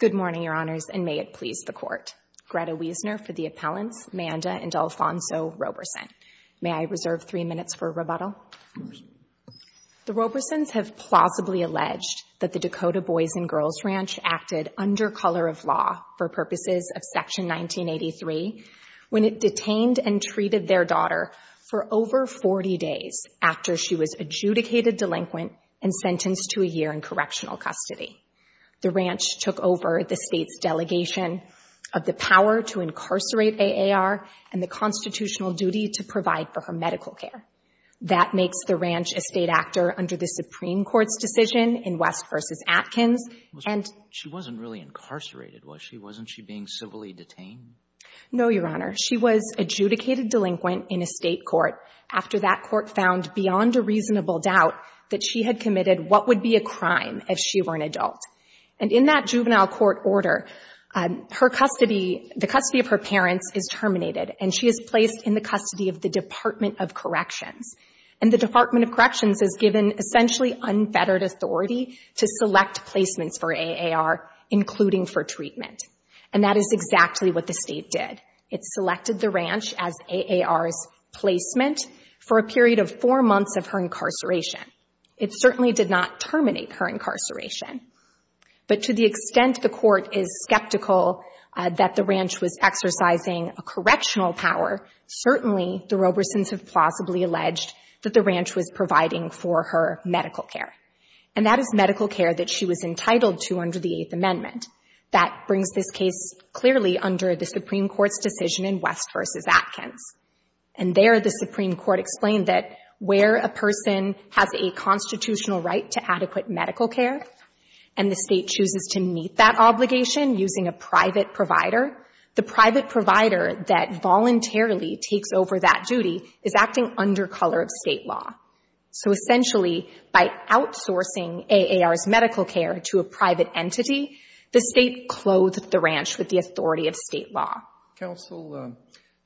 Good morning, Your Honors, and may it please the Court. Greta Wiesner for the appellants, Manda and Alfonso Roberson. May I reserve three minutes for rebuttal? The Roberson's have plausibly alleged that the Dakota Boys & Girls Ranch acted under color of law for purposes of Section 1983 when it detained and treated their daughter for over 40 days after she was adjudicated delinquent and sentenced to a year in correctional custody. The ranch took over the state's delegation of the power to incarcerate AAR and the constitutional duty to provide for her medical care. That makes the ranch a state actor under the Supreme Court's decision in West v. Atkins. She wasn't really incarcerated, was she? Wasn't she being civilly detained? No, Your Honor. She was adjudicated delinquent in a state court after that court found beyond a what would be a crime if she were an adult. And in that juvenile court order, the custody of her parents is terminated and she is placed in the custody of the Department of Corrections. And the Department of Corrections is given essentially unfettered authority to select placements for AAR, including for treatment. And that is exactly what the state did. It selected the ranch as AAR's placement for a period of four months of her incarceration. It certainly did not terminate her incarceration. But to the extent the court is skeptical that the ranch was exercising a correctional power, certainly the Robersons have plausibly alleged that the ranch was providing for her medical care. And that is medical care that she was entitled to under the Eighth Amendment. That brings this case clearly under the Supreme Court's decision in West v. Atkins. And there the Supreme Court explained that where a person has a constitutional right to adequate medical care and the state chooses to meet that obligation using a private provider, the private provider that voluntarily takes over that duty is acting under color of state law. So essentially, by outsourcing AAR's medical care to a private entity, the state clothed the ranch with the authority of state law. Roberts. Counsel,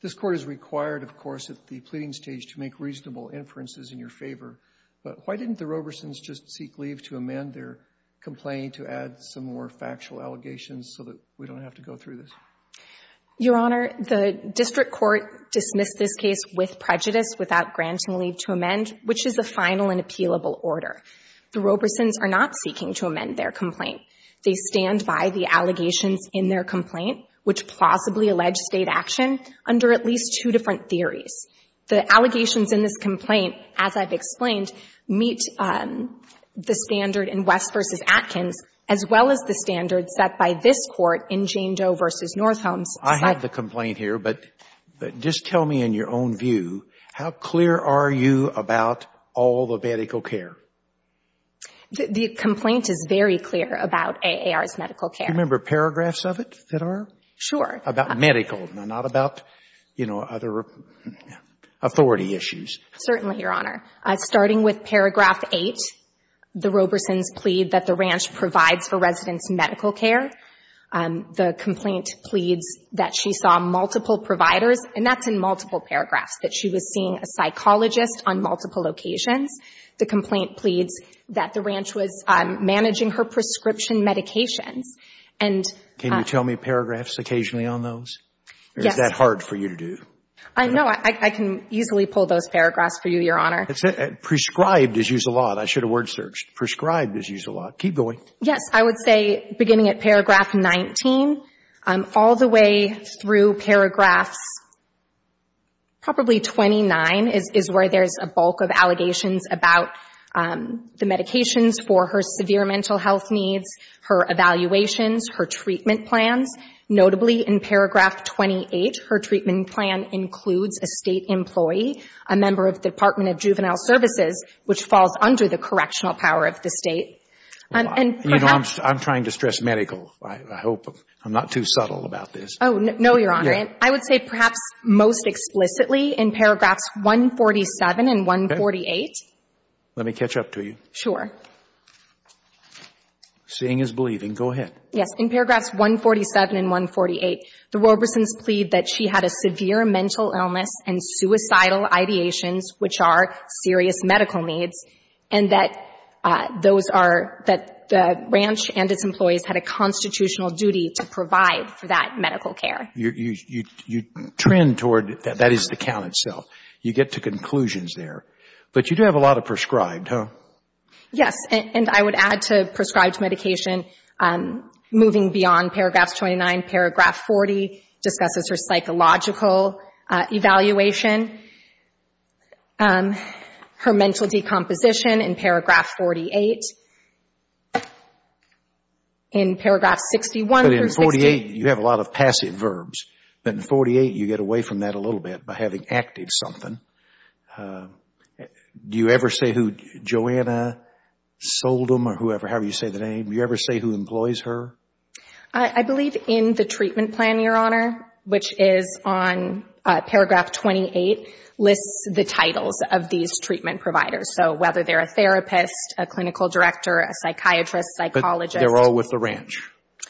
this court is required, of course, at the pleading stage to make reasonable inferences in your favor. But why didn't the Robersons just seek leave to amend their complaint to add some more factual allegations so that we don't have to go through this? Your Honor, the district court dismissed this case with prejudice without granting leave to amend, which is the final and appealable order. The Robersons are not seeking to amend their complaint. They stand by the allegations in their complaint, which plausibly allege state action, under at least two different theories. The allegations in this complaint, as I've explained, meet the standard in West v. Atkins, as well as the standard set by this Court in Jane Doe v. Northolme's side. I have the complaint here, but just tell me in your own view, how clear are you about all the medical care? The complaint is very clear about AAR's medical care. Do you remember paragraphs of it that are? Sure. About medical, not about, you know, other authority issues. Certainly, Your Honor. Starting with paragraph 8, the Robersons plead that the ranch provides for residents medical care. The complaint pleads that she saw multiple providers, and that's in multiple paragraphs, that she was seeing a psychologist on multiple occasions. The complaint pleads that the ranch was managing her prescription medications. And Can you tell me paragraphs occasionally on those? Yes. Or is that hard for you to do? No, I can easily pull those paragraphs for you, Your Honor. Prescribed is used a lot. I should have word searched. Prescribed is used a lot. Keep going. Yes. I would say, beginning at paragraph 19, all the way through paragraphs probably 29 is where there's a bulk of allegations about the medications for her plans. Notably, in paragraph 28, her treatment plan includes a State employee, a member of the Department of Juvenile Services, which falls under the correctional power of the State. And perhaps You know, I'm trying to stress medical. I hope I'm not too subtle about this. Oh, no, Your Honor. I would say perhaps most explicitly in paragraphs 147 and 148. Let me catch up to you. Sure. Seeing is believing. Go ahead. Yes. In paragraphs 147 and 148, the Roberson's plead that she had a severe mental illness and suicidal ideations, which are serious medical needs, and that those are that the ranch and its employees had a constitutional duty to provide for that medical care. You trend toward, that is the count itself. You get to conclusions there. Yes. And I would add to prescribed medication, moving beyond paragraphs 29, paragraph 40 discusses her psychological evaluation, her mental decomposition in paragraph 48. In paragraph 61, But in 48, you have a lot of passive verbs. But in 48, you get away from that a little bit by having active something. Do you ever say who, Joanna Soldom or whoever, however you say the name, do you ever say who employs her? I believe in the treatment plan, Your Honor, which is on paragraph 28, lists the titles of these treatment providers. So whether they're a therapist, a clinical director, a psychiatrist, psychologist. But they're all with the ranch.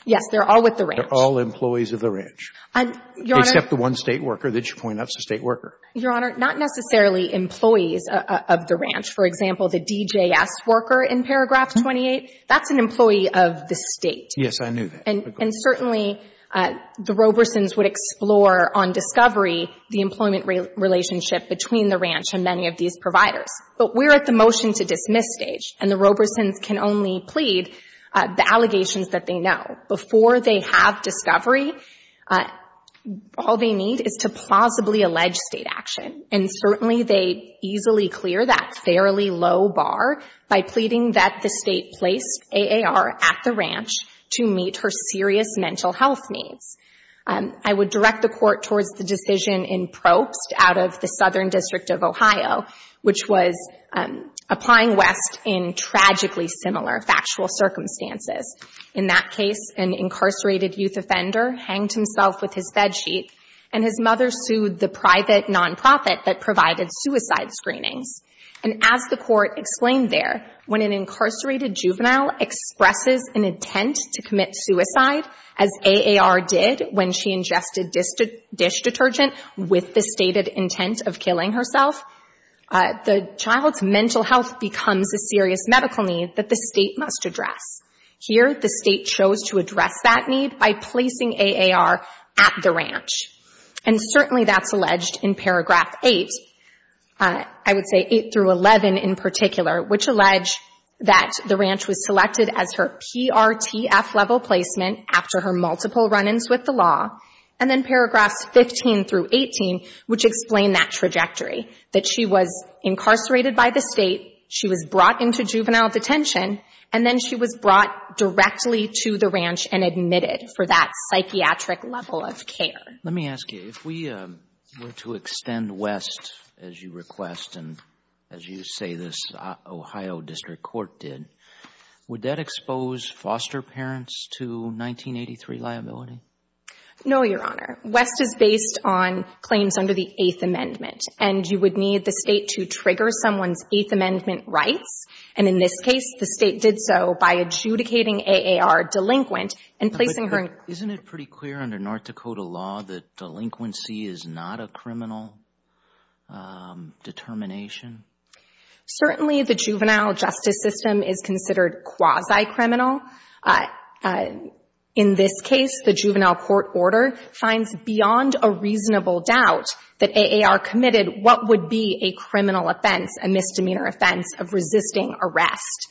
Yes, they're all with the ranch. They're all employees of the ranch. Your Honor. Except the one State worker that you point out is a State worker. Your Honor, not necessarily employees of the ranch. For example, the DJS worker in paragraph 28, that's an employee of the State. Yes, I knew that. And certainly, the Robersons would explore on discovery the employment relationship between the ranch and many of these providers. But we're at the motion-to-dismiss stage, and the Robersons can only plead the allegations that they know. Before they have discovery, all they need is to plausibly allege State action. And certainly, they easily clear that fairly low bar by pleading that the State place AAR at the ranch to meet her serious mental health needs. I would direct the Court towards the decision in Probst out of the Southern District of Ohio, which was applying West in tragically similar factual circumstances. In that case, an incarcerated youth offender hanged himself with his bedsheet, and his mother sued the private nonprofit that provided suicide screenings. And as the Court explained there, when an incarcerated juvenile expresses an intent to commit suicide, as AAR did when she ingested dish detergent with the stated intent of killing herself, the child's mental health becomes a serious medical need that the State must address. Here, the State chose to address that need by placing AAR at the ranch. And certainly, that's alleged in Paragraph 8, I would say 8 through 11 in particular, which allege that the ranch was selected as her PRTF-level placement after her multiple run-ins with the law, and then Paragraphs 15 through 18, which explain that trajectory, that she was incarcerated by the State, she was brought into juvenile detention, and then she was brought directly to the ranch and admitted for that psychiatric level of care. – Let me ask you, if we were to extend West, as you request, and as you say this Ohio District Court did, would that expose foster parents to 1983 liability? – No, Your Honor. West is based on claims under the Eighth Amendment, and you would need the State to trigger someone's Eighth Amendment rights, and in this case, the State did so by adjudicating AAR delinquent and placing her— – Isn't it pretty clear under North Dakota law that delinquency is not a criminal determination? – Certainly, the juvenile justice system is considered quasi-criminal. In this case, the juvenile court order finds beyond a reasonable doubt that AAR committed what would be a criminal offense, a misdemeanor offense, of resisting arrest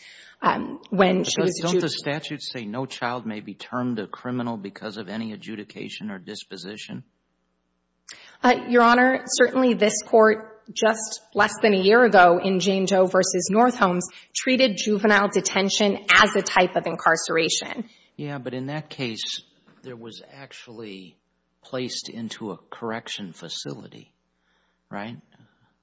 when she was— – But don't the statutes say no child may be termed a criminal because of any adjudication or disposition? – Your Honor, certainly this court, just less than a year ago in Jane Doe v. North Holmes, treated juvenile detention as a type of incarceration. – Yeah, but in that case, there was actually placed into a correction facility, right? –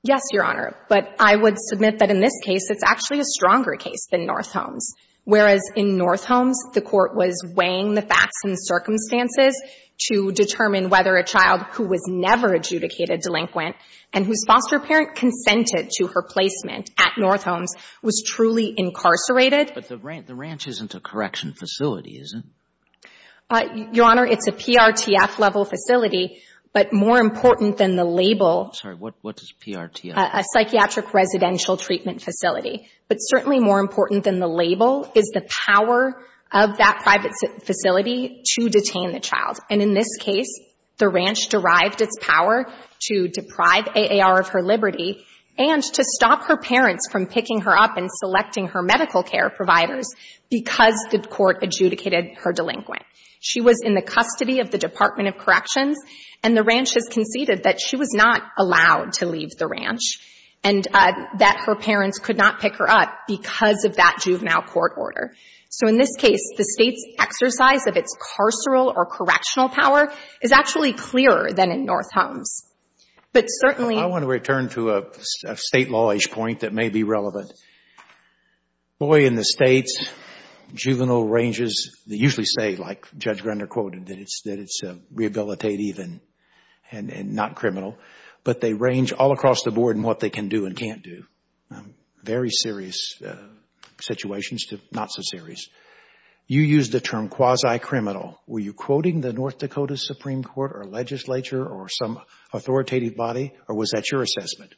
Yes, Your Honor, but I would submit that in this case, it's actually a stronger case than North Holmes, whereas in North Holmes, the court was weighing the facts and circumstances to determine whether a child who was never adjudicated delinquent and whose foster parent consented to her placement at North Holmes was truly incarcerated. – But the ranch isn't a correction facility, is it? – Your Honor, it's a PRTF-level facility, but more important than the label— – Sorry, what is PRTF? – A psychiatric residential treatment facility. But certainly more important than the label is the power of that private facility to detain the child. And in this case, the ranch derived its power to deprive AAR of her liberty and to stop her parents from picking her up and selecting her medical care providers because the court adjudicated her delinquent. She was in the custody of the Department of Corrections, and the ranch has conceded that she was not allowed to leave the ranch and that her parents could not pick her up because of that juvenile court order. So in this case, the State's exercise of its carceral or correctional power is actually clearer than in North Holmes. But certainly— – A State law-ish point that may be relevant. Boy, in the States, juvenile ranges— They usually say, like Judge Grunder quoted, that it's rehabilitative and not criminal. But they range all across the board in what they can do and can't do. Very serious situations to not so serious. You used the term quasi-criminal. Were you quoting the North Dakota Supreme Court or legislature or some authoritative body, or was that your assessment?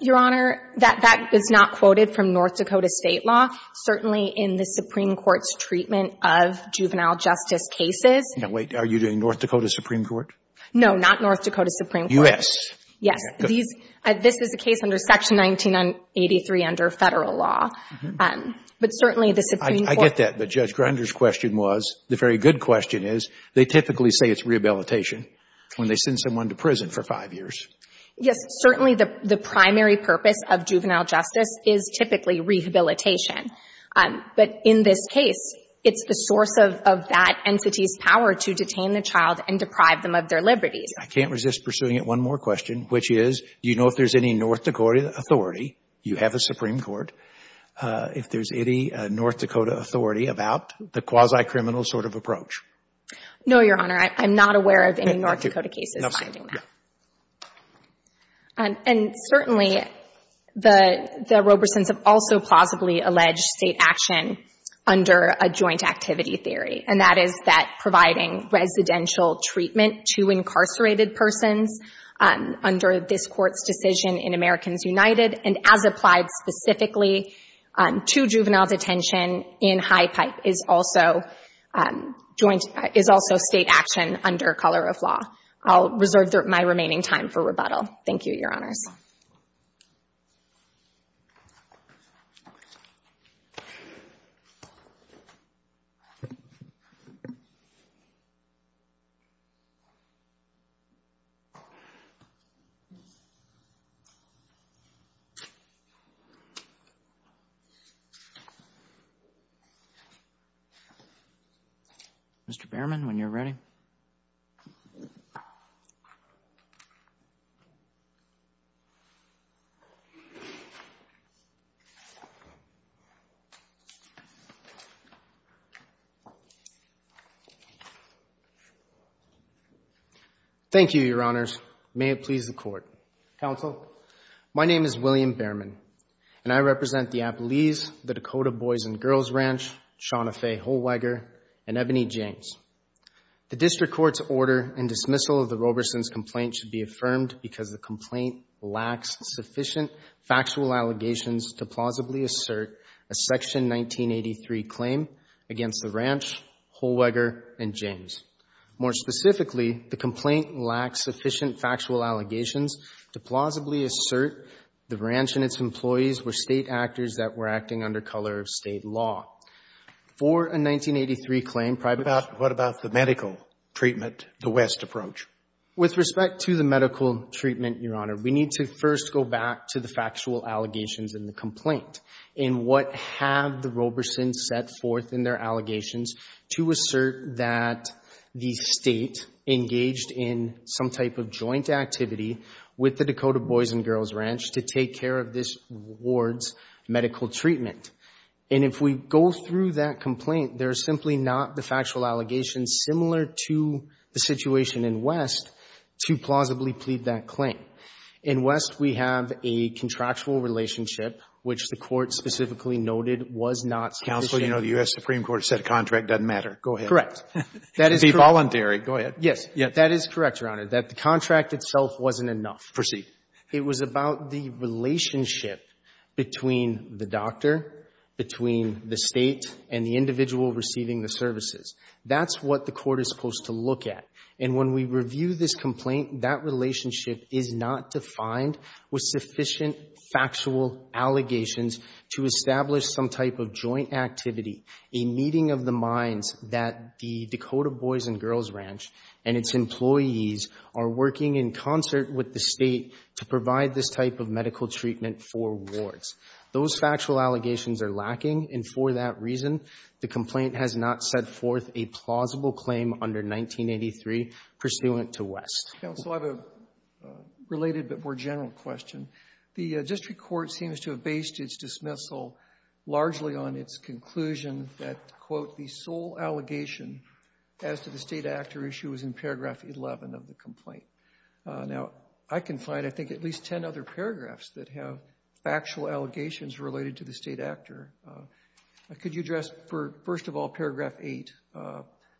Your Honor, that is not quoted from North Dakota State law. Certainly in the Supreme Court's treatment of juvenile justice cases— Now, wait. Are you doing North Dakota Supreme Court? No, not North Dakota Supreme Court. U.S. Yes, this is a case under Section 1983 under federal law. But certainly the Supreme Court— I get that. But Judge Grunder's question was, the very good question is, they typically say it's rehabilitation when they send someone to prison for five years. Yes, certainly the primary purpose of juvenile justice is typically rehabilitation. But in this case, it's the source of that entity's power to detain the child and deprive them of their liberties. I can't resist pursuing it. One more question, which is, do you know if there's any North Dakota authority—you have a Supreme Court—if there's any North Dakota authority about the quasi-criminal sort of approach? No, Your Honor, I'm not aware of any North Dakota cases finding that. And certainly, the Robesons have also plausibly alleged state action under a joint activity theory, and that is that providing residential treatment to incarcerated persons under this Court's decision in Americans United, and as applied specifically to juvenile detention in High Pipe, is also state action under color of law. I'll reserve my remaining time for rebuttal. Thank you, Your Honors. Mr. Behrman, when you're ready. Thank you, Your Honors. May it please the Court. Counsel, my name is William Behrman, and I represent the Appalese, the Dakota Boys and Girls Ranch, Shauna Faye Holwiger, and Ebony James. The district court's order and dismissal of the Robesons' complaint should be affirmed because the complaint lacks sufficient factual allegations to plausibly assert a Section 1983 claim against the ranch, Holwiger, and James. More specifically, the complaint lacks sufficient factual allegations to plausibly assert the ranch and its employees were state actors that were acting under color of state law. For a 1983 claim, private— What about the medical treatment, the West approach? With respect to the medical treatment, Your Honor, we need to first go back to the factual allegations in the complaint and what have the Robesons set forth in their allegations to assert that the state engaged in some type of joint activity with the Dakota Boys and Girls Ranch to take care of this ward's medical treatment. And if we go through that complaint, there is simply not the factual allegations similar to the situation in West to plausibly plead that claim. In West, we have a contractual relationship, which the court specifically noted was not sufficient— Counsel, you know the U.S. Supreme Court said a contract doesn't matter. Go ahead. Correct. That is— Be voluntary. Go ahead. Yes. That is correct, Your Honor, that the contract itself wasn't enough. Proceed. It was about the relationship between the doctor, between the state, and the individual receiving the services. That's what the court is supposed to look at. And when we review this complaint, that relationship is not defined with sufficient factual allegations to establish some type of joint activity, a meeting of the minds that the Dakota Boys and Girls Ranch and its employees are working in concert with the state to provide this type of medical treatment for wards. Those factual allegations are lacking, and for that reason, the complaint has not set forth a plausible claim under 1983 pursuant to West. Counsel, I have a related but more general question. The district court seems to have based its dismissal largely on its conclusion that, quote, the sole allegation as to the state actor issue is in paragraph 11 of the complaint. Now, I can find, I think, at least 10 other paragraphs that have factual allegations related to the state actor. Could you address, first of all, paragraph 8,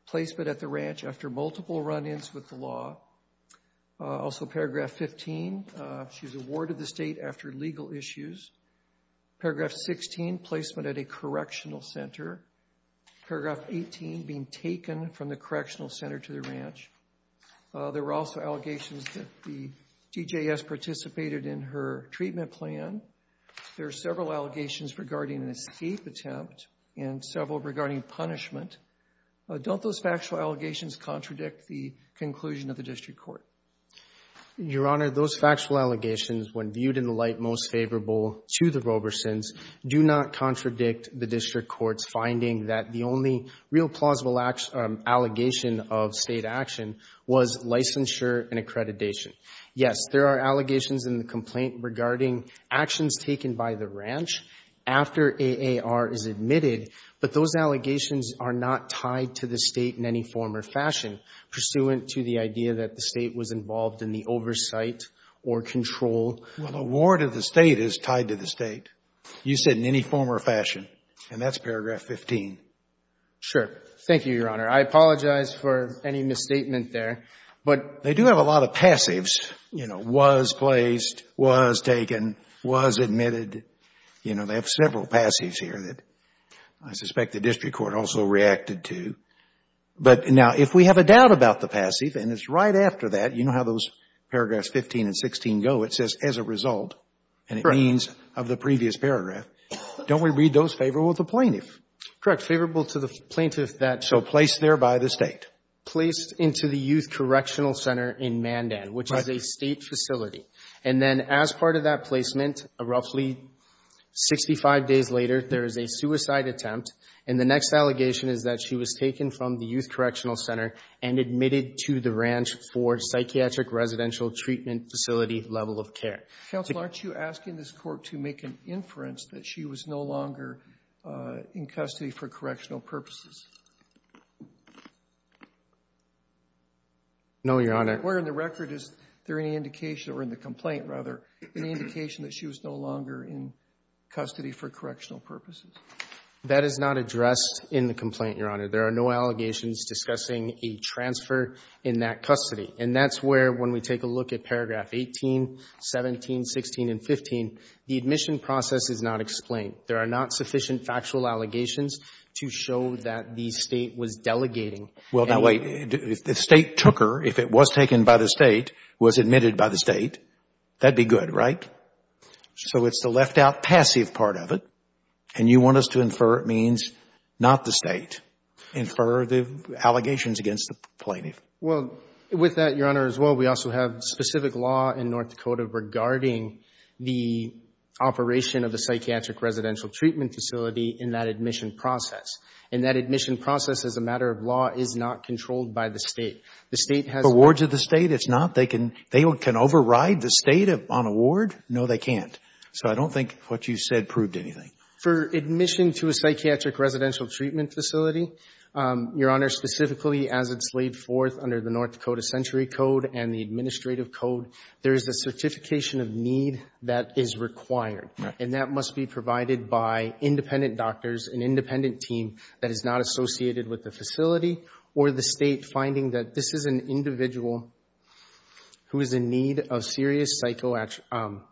placement at the ranch after multiple run-ins with the law? Also, paragraph 15, she's awarded the state after legal issues. Paragraph 16, placement at a correctional center. Paragraph 18, being taken from the correctional center to the ranch. There were also allegations that the TJS participated in her treatment plan. There are several allegations regarding an escape attempt and several regarding punishment. Don't those factual allegations contradict the conclusion of the district court? Your Honor, those factual allegations, when viewed in the light most favorable to the Robersons, do not contradict the district court's finding that the only real plausible allegation of state action was licensure and accreditation. Yes, there are allegations in the complaint regarding actions taken by the ranch after AAR is admitted, but those allegations are not tied to the state in any form or fashion pursuant to the idea that the state was involved in the oversight or control. Well, awarded the state is tied to the state. You said in any form or fashion, and that's paragraph 15. Sure. Thank you, Your Honor. I apologize for any misstatement there, but They do have a lot of passives, you know, was placed, was taken, was admitted. You know, they have several passives here that I suspect the district court also reacted to. But now, if we have a doubt about the passive, and it's right after that, you know how those paragraphs 15 and 16 go. It says, as a result, and it means of the previous paragraph. Don't we read those favorable to the plaintiff? Correct. Favorable to the plaintiff that So placed there by the state. Placed into the Youth Correctional Center in Mandan, which is a state facility. And then as part of that placement, roughly 65 days later, there is a suicide attempt. And the next allegation is that she was taken from the Youth Correctional Center and admitted to the ranch for psychiatric residential treatment facility level of care. Counsel, aren't you asking this court to make an inference that she was no longer in custody for correctional purposes? No, Your Honor. Where in the record is there any indication, or in the complaint rather, That is not addressed in the complaint, Your Honor. There are no allegations discussing a transfer in that custody. And that's where, when we take a look at paragraph 18, 17, 16, and 15, the admission process is not explained. There are not sufficient factual allegations to show that the state was delegating. Well, now, wait. If the state took her, if it was taken by the state, was admitted by the state, that'd be good, right? So it's the left out passive part of it. And you want us to infer it means not the state. Infer the allegations against the plaintiff. Well, with that, Your Honor, as well, we also have specific law in North Dakota regarding the operation of the psychiatric residential treatment facility in that admission process. And that admission process, as a matter of law, is not controlled by the state. The state has- The wards of the state, it's not? They can override the state on a ward? No, they can't. So I don't think what you said proved anything. For admission to a psychiatric residential treatment facility, Your Honor, specifically as it's laid forth under the North Dakota Century Code and the administrative code, there is a certification of need that is required. And that must be provided by independent doctors, an independent team that is not associated with the facility, or the state finding that this is an individual who is in need of serious psychoactive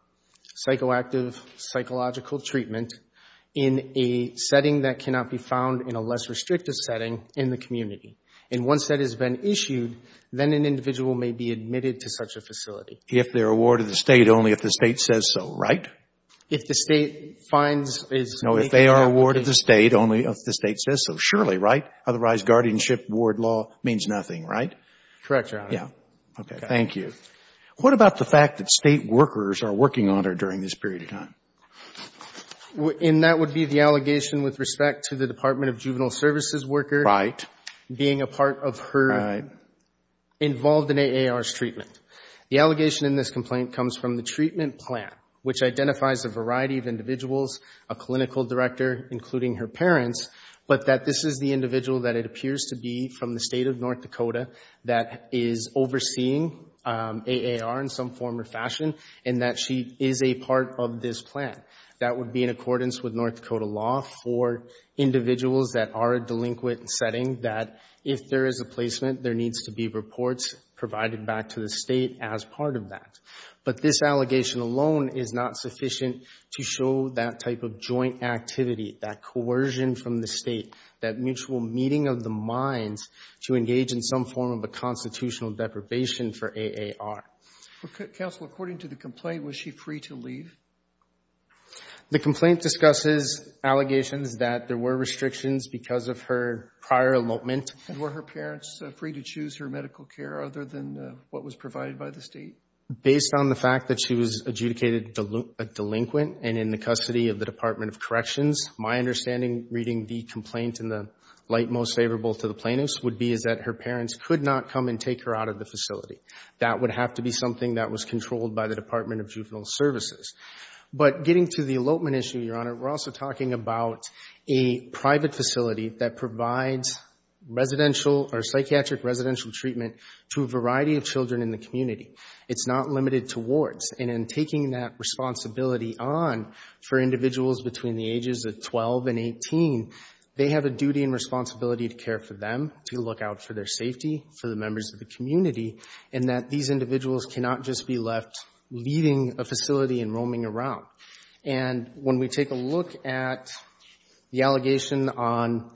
psychological treatment in a setting that cannot be found in a less restrictive setting in the community. And once that has been issued, then an individual may be admitted to such a facility. If they're a ward of the state, only if the state says so, right? If the state finds is- No, if they are a ward of the state, only if the state says so. Surely, right? Correct, Your Honor. Thank you. What about the fact that state workers are working on her during this period of time? And that would be the allegation with respect to the Department of Juvenile Services worker being a part of her involved in AAR's treatment. The allegation in this complaint comes from the treatment plan, which identifies a variety of individuals, a clinical director, including her parents, but that this is the individual that it appears to be from the state of North Dakota that is overseeing AAR in some form or fashion, and that she is a part of this plan. That would be in accordance with North Dakota law for individuals that are a delinquent setting that if there is a placement, there needs to be reports provided back to the state as part of that. But this allegation alone is not sufficient to show that type of joint activity, that mutual meeting of the minds to engage in some form of a constitutional deprivation for AAR. Counsel, according to the complaint, was she free to leave? The complaint discusses allegations that there were restrictions because of her prior elopement. Were her parents free to choose her medical care other than what was provided by the state? Based on the fact that she was adjudicated a delinquent and in the custody of the Department of Corrections, my understanding reading the complaint in the light most favorable to the plaintiffs would be is that her parents could not come and take her out of the facility. That would have to be something that was controlled by the Department of Juvenile Services. But getting to the elopement issue, Your Honor, we're also talking about a private facility that provides residential or psychiatric residential treatment to a variety of children in the community. It's not limited to wards. And in taking that responsibility on for individuals between the ages of 12 and 18, they have a duty and responsibility to care for them, to look out for their safety, for the members of the community, and that these individuals cannot just be left leaving a facility and roaming around. And when we take a look at the allegation on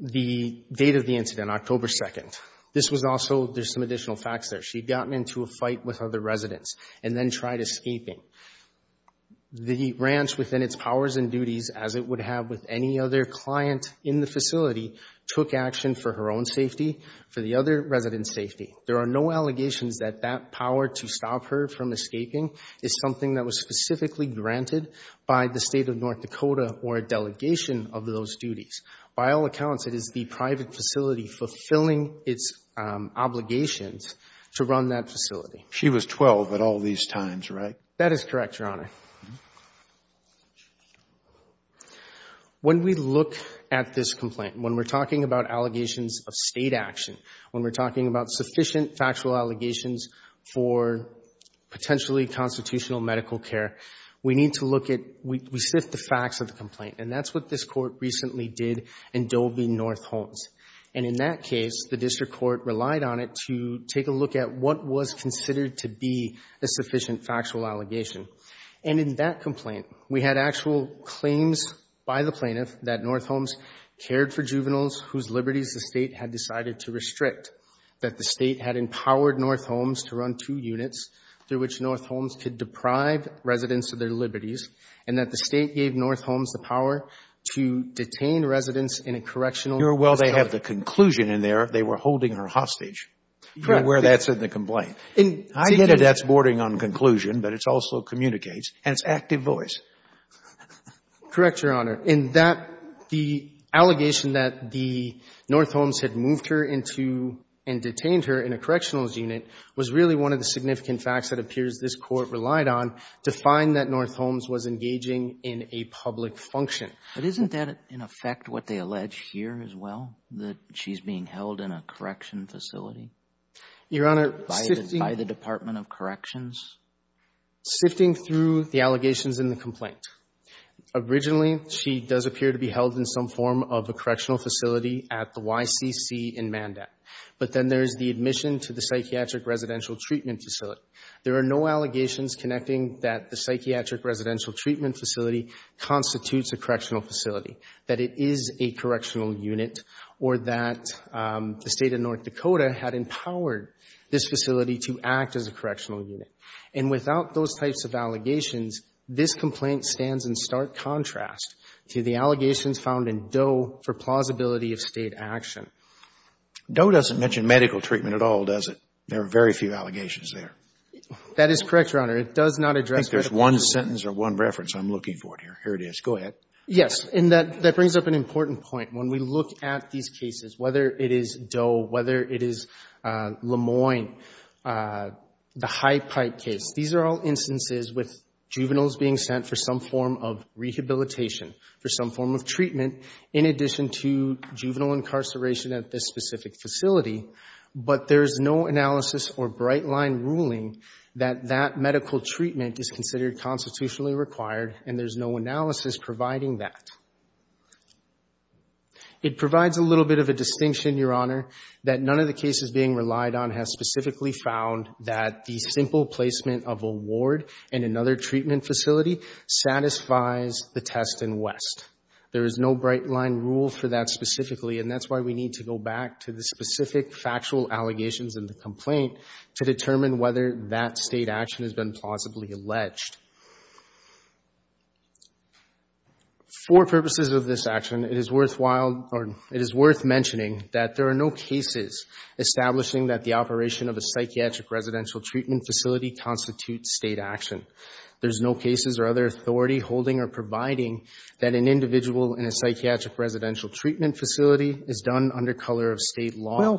the date of the incident, October 2nd, this was also — there's some additional facts there. She'd gotten into a fight with other residents and then tried escaping. The ranch, within its powers and duties, as it would have with any other client in the facility, took action for her own safety, for the other residents' safety. There are no allegations that that power to stop her from escaping is something that was specifically granted by the state of North Dakota or a delegation of those duties. By all accounts, it is the private facility fulfilling its obligations to run that facility. She was 12 at all these times, right? That is correct, Your Honor. When we look at this complaint, when we're talking about allegations of State action, when we're talking about sufficient factual allegations for potentially constitutional medical care, we need to look at — we sift the facts of the complaint. And that's what this Court recently did in Dole v. North Holmes. And in that case, the District Court relied on it to take a look at what was considered to be a sufficient factual allegation. And in that complaint, we had actual claims by the plaintiff that North Holmes cared for juveniles whose liberties the State had decided to restrict, that the State had empowered North Holmes to run two units through which North Holmes could deprive residents of their power to detain residents in a correctional facility. Well, they have the conclusion in there. They were holding her hostage. Correct. You're aware that's in the complaint. I get it that's bordering on conclusion, but it also communicates. And it's active voice. Correct, Your Honor. In that, the allegation that the — North Holmes had moved her into and detained her in a correctional unit was really one of the significant facts that appears this Court relied on to find that North Holmes was engaging in a public function. But isn't that, in effect, what they allege here as well, that she's being held in a correction facility? Your Honor, sifting — By the Department of Corrections? Sifting through the allegations in the complaint. Originally, she does appear to be held in some form of a correctional facility at the YCC in Mandat. But then there's the admission to the psychiatric residential treatment facility. There are no allegations connecting that the psychiatric residential treatment facility constitutes a correctional facility, that it is a correctional unit, or that the state of North Dakota had empowered this facility to act as a correctional unit. And without those types of allegations, this complaint stands in stark contrast to the allegations found in Doe for plausibility of state action. Doe doesn't mention medical treatment at all, does it? There are very few allegations there. That is correct, Your Honor. It does not address medical treatment. I think there's one sentence or one reference. I'm looking for it here. Here it is. Go ahead. Yes. And that brings up an important point. When we look at these cases, whether it is Doe, whether it is LeMoyne, the High Pipe case, these are all instances with juveniles being sent for some form of rehabilitation, for some form of treatment, in addition to juvenile incarceration at this specific facility. But there's no analysis or bright-line ruling that that medical treatment is considered constitutionally required, and there's no analysis providing that. It provides a little bit of a distinction, Your Honor, that none of the cases being relied on has specifically found that the simple placement of a ward in another treatment facility satisfies the test in West. There is no bright-line rule for that specifically, and that's why we need to go back to the specific factual allegations in the complaint to determine whether that state action has been plausibly alleged. For purposes of this action, it is worthwhile or it is worth mentioning that there are no cases establishing that the operation of a psychiatric residential treatment facility constitutes state action. There's no cases or other authority holding or providing that an individual in a psychiatric Well,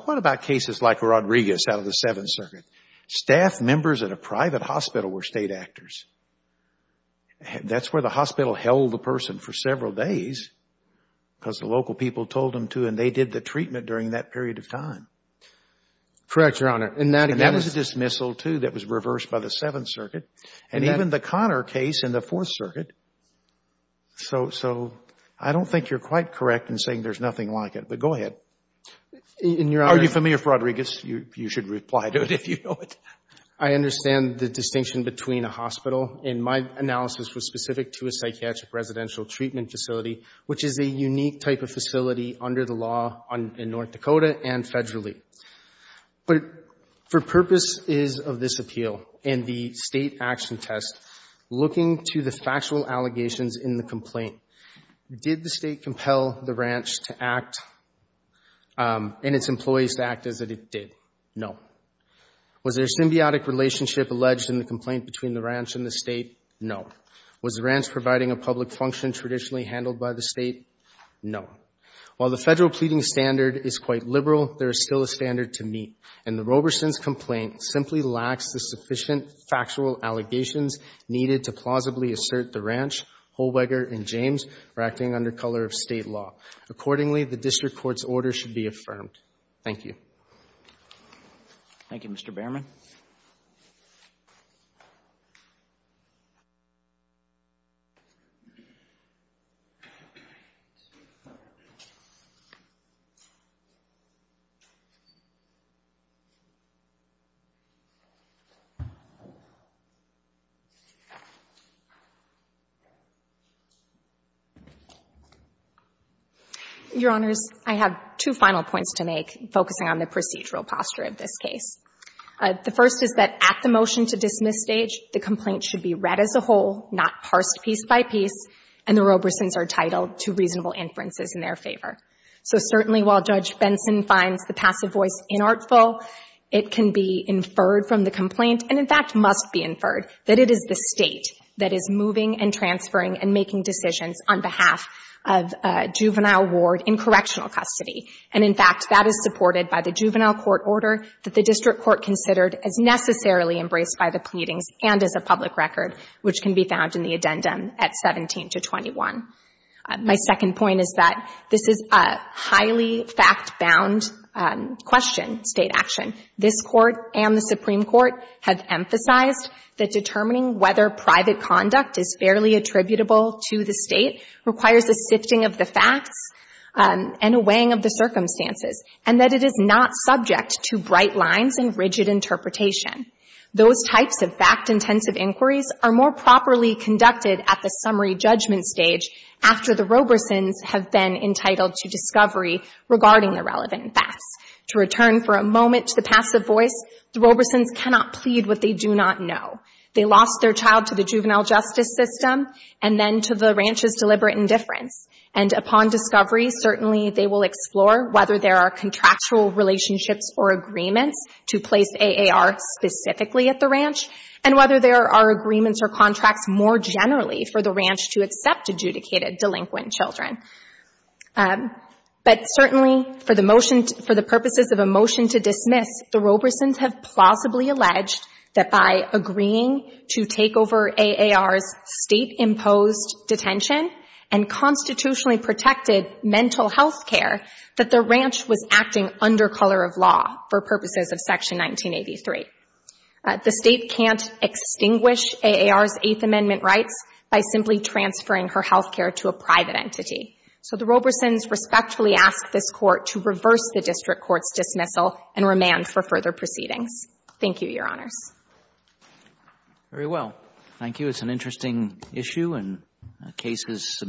what about cases like Rodriguez out of the Seventh Circuit? Staff members at a private hospital were state actors. That's where the hospital held the person for several days because the local people told them to, and they did the treatment during that period of time. Correct, Your Honor. And that was a dismissal too that was reversed by the Seventh Circuit, and even the Connor case in the Fourth Circuit. So I don't think you're quite correct in saying there's nothing like it, but go ahead. Are you familiar with Rodriguez? You should reply to it if you know it. I understand the distinction between a hospital, and my analysis was specific to a psychiatric residential treatment facility, which is a unique type of facility under the law in North Dakota and federally. But for purposes of this appeal and the state action test, looking to the factual allegations in the complaint, did the state compel the ranch and its employees to act as it did? No. Was there a symbiotic relationship alleged in the complaint between the ranch and the state? No. Was the ranch providing a public function traditionally handled by the state? No. While the federal pleading standard is quite liberal, there is still a standard to meet, and the Roberson's complaint simply lacks the sufficient factual allegations needed to plausibly assert the ranch, Holweger, and James are acting under color of state law. Accordingly, the district court's order should be affirmed. Thank you. Thank you, Mr. Behrman. Your Honors, I have two final points to make, focusing on the procedural posture of this case. The first is that at the motion to dismiss stage, the complaint should be read as a whole, not parsed piece by piece, and the Roberson's are titled to reasonable inferences in their favor. So certainly, while Judge Benson finds the passive voice inartful, it can be inferred from the complaint, and in fact, must be inferred, that it is the state that is the that is moving and transferring and making decisions on behalf of juvenile ward in correctional custody. And in fact, that is supported by the juvenile court order that the district court considered as necessarily embraced by the pleadings and as a public record, which can be found in the addendum at 17 to 21. My second point is that this is a highly fact-bound question, state action. This court and the Supreme Court have emphasized that determining whether private conduct is fairly attributable to the state requires a sifting of the facts and a weighing of the circumstances, and that it is not subject to bright lines and rigid interpretation. Those types of fact-intensive inquiries are more properly conducted at the summary judgment stage after the Roberson's have been entitled to discovery regarding the relevant facts. To return for a moment to the passive voice, the Roberson's cannot plead what they do not know. They lost their child to the juvenile justice system, and then to the ranch's deliberate indifference. And upon discovery, certainly they will explore whether there are contractual relationships or agreements to place AAR specifically at the ranch, and whether there are agreements or contracts more generally for the ranch to accept adjudicated delinquent children. But certainly for the purposes of a motion to dismiss, the Roberson's have plausibly alleged that by agreeing to take over AAR's state-imposed detention and constitutionally protected mental health care, that the ranch was acting under color of law for purposes of Section 1983. The state can't extinguish AAR's Eighth Amendment rights by simply transferring her identity. So the Roberson's respectfully ask this Court to reverse the district court's dismissal and remand for further proceedings. Thank you, Your Honors. Very well. Thank you. It's an interesting issue, and the case is submitted.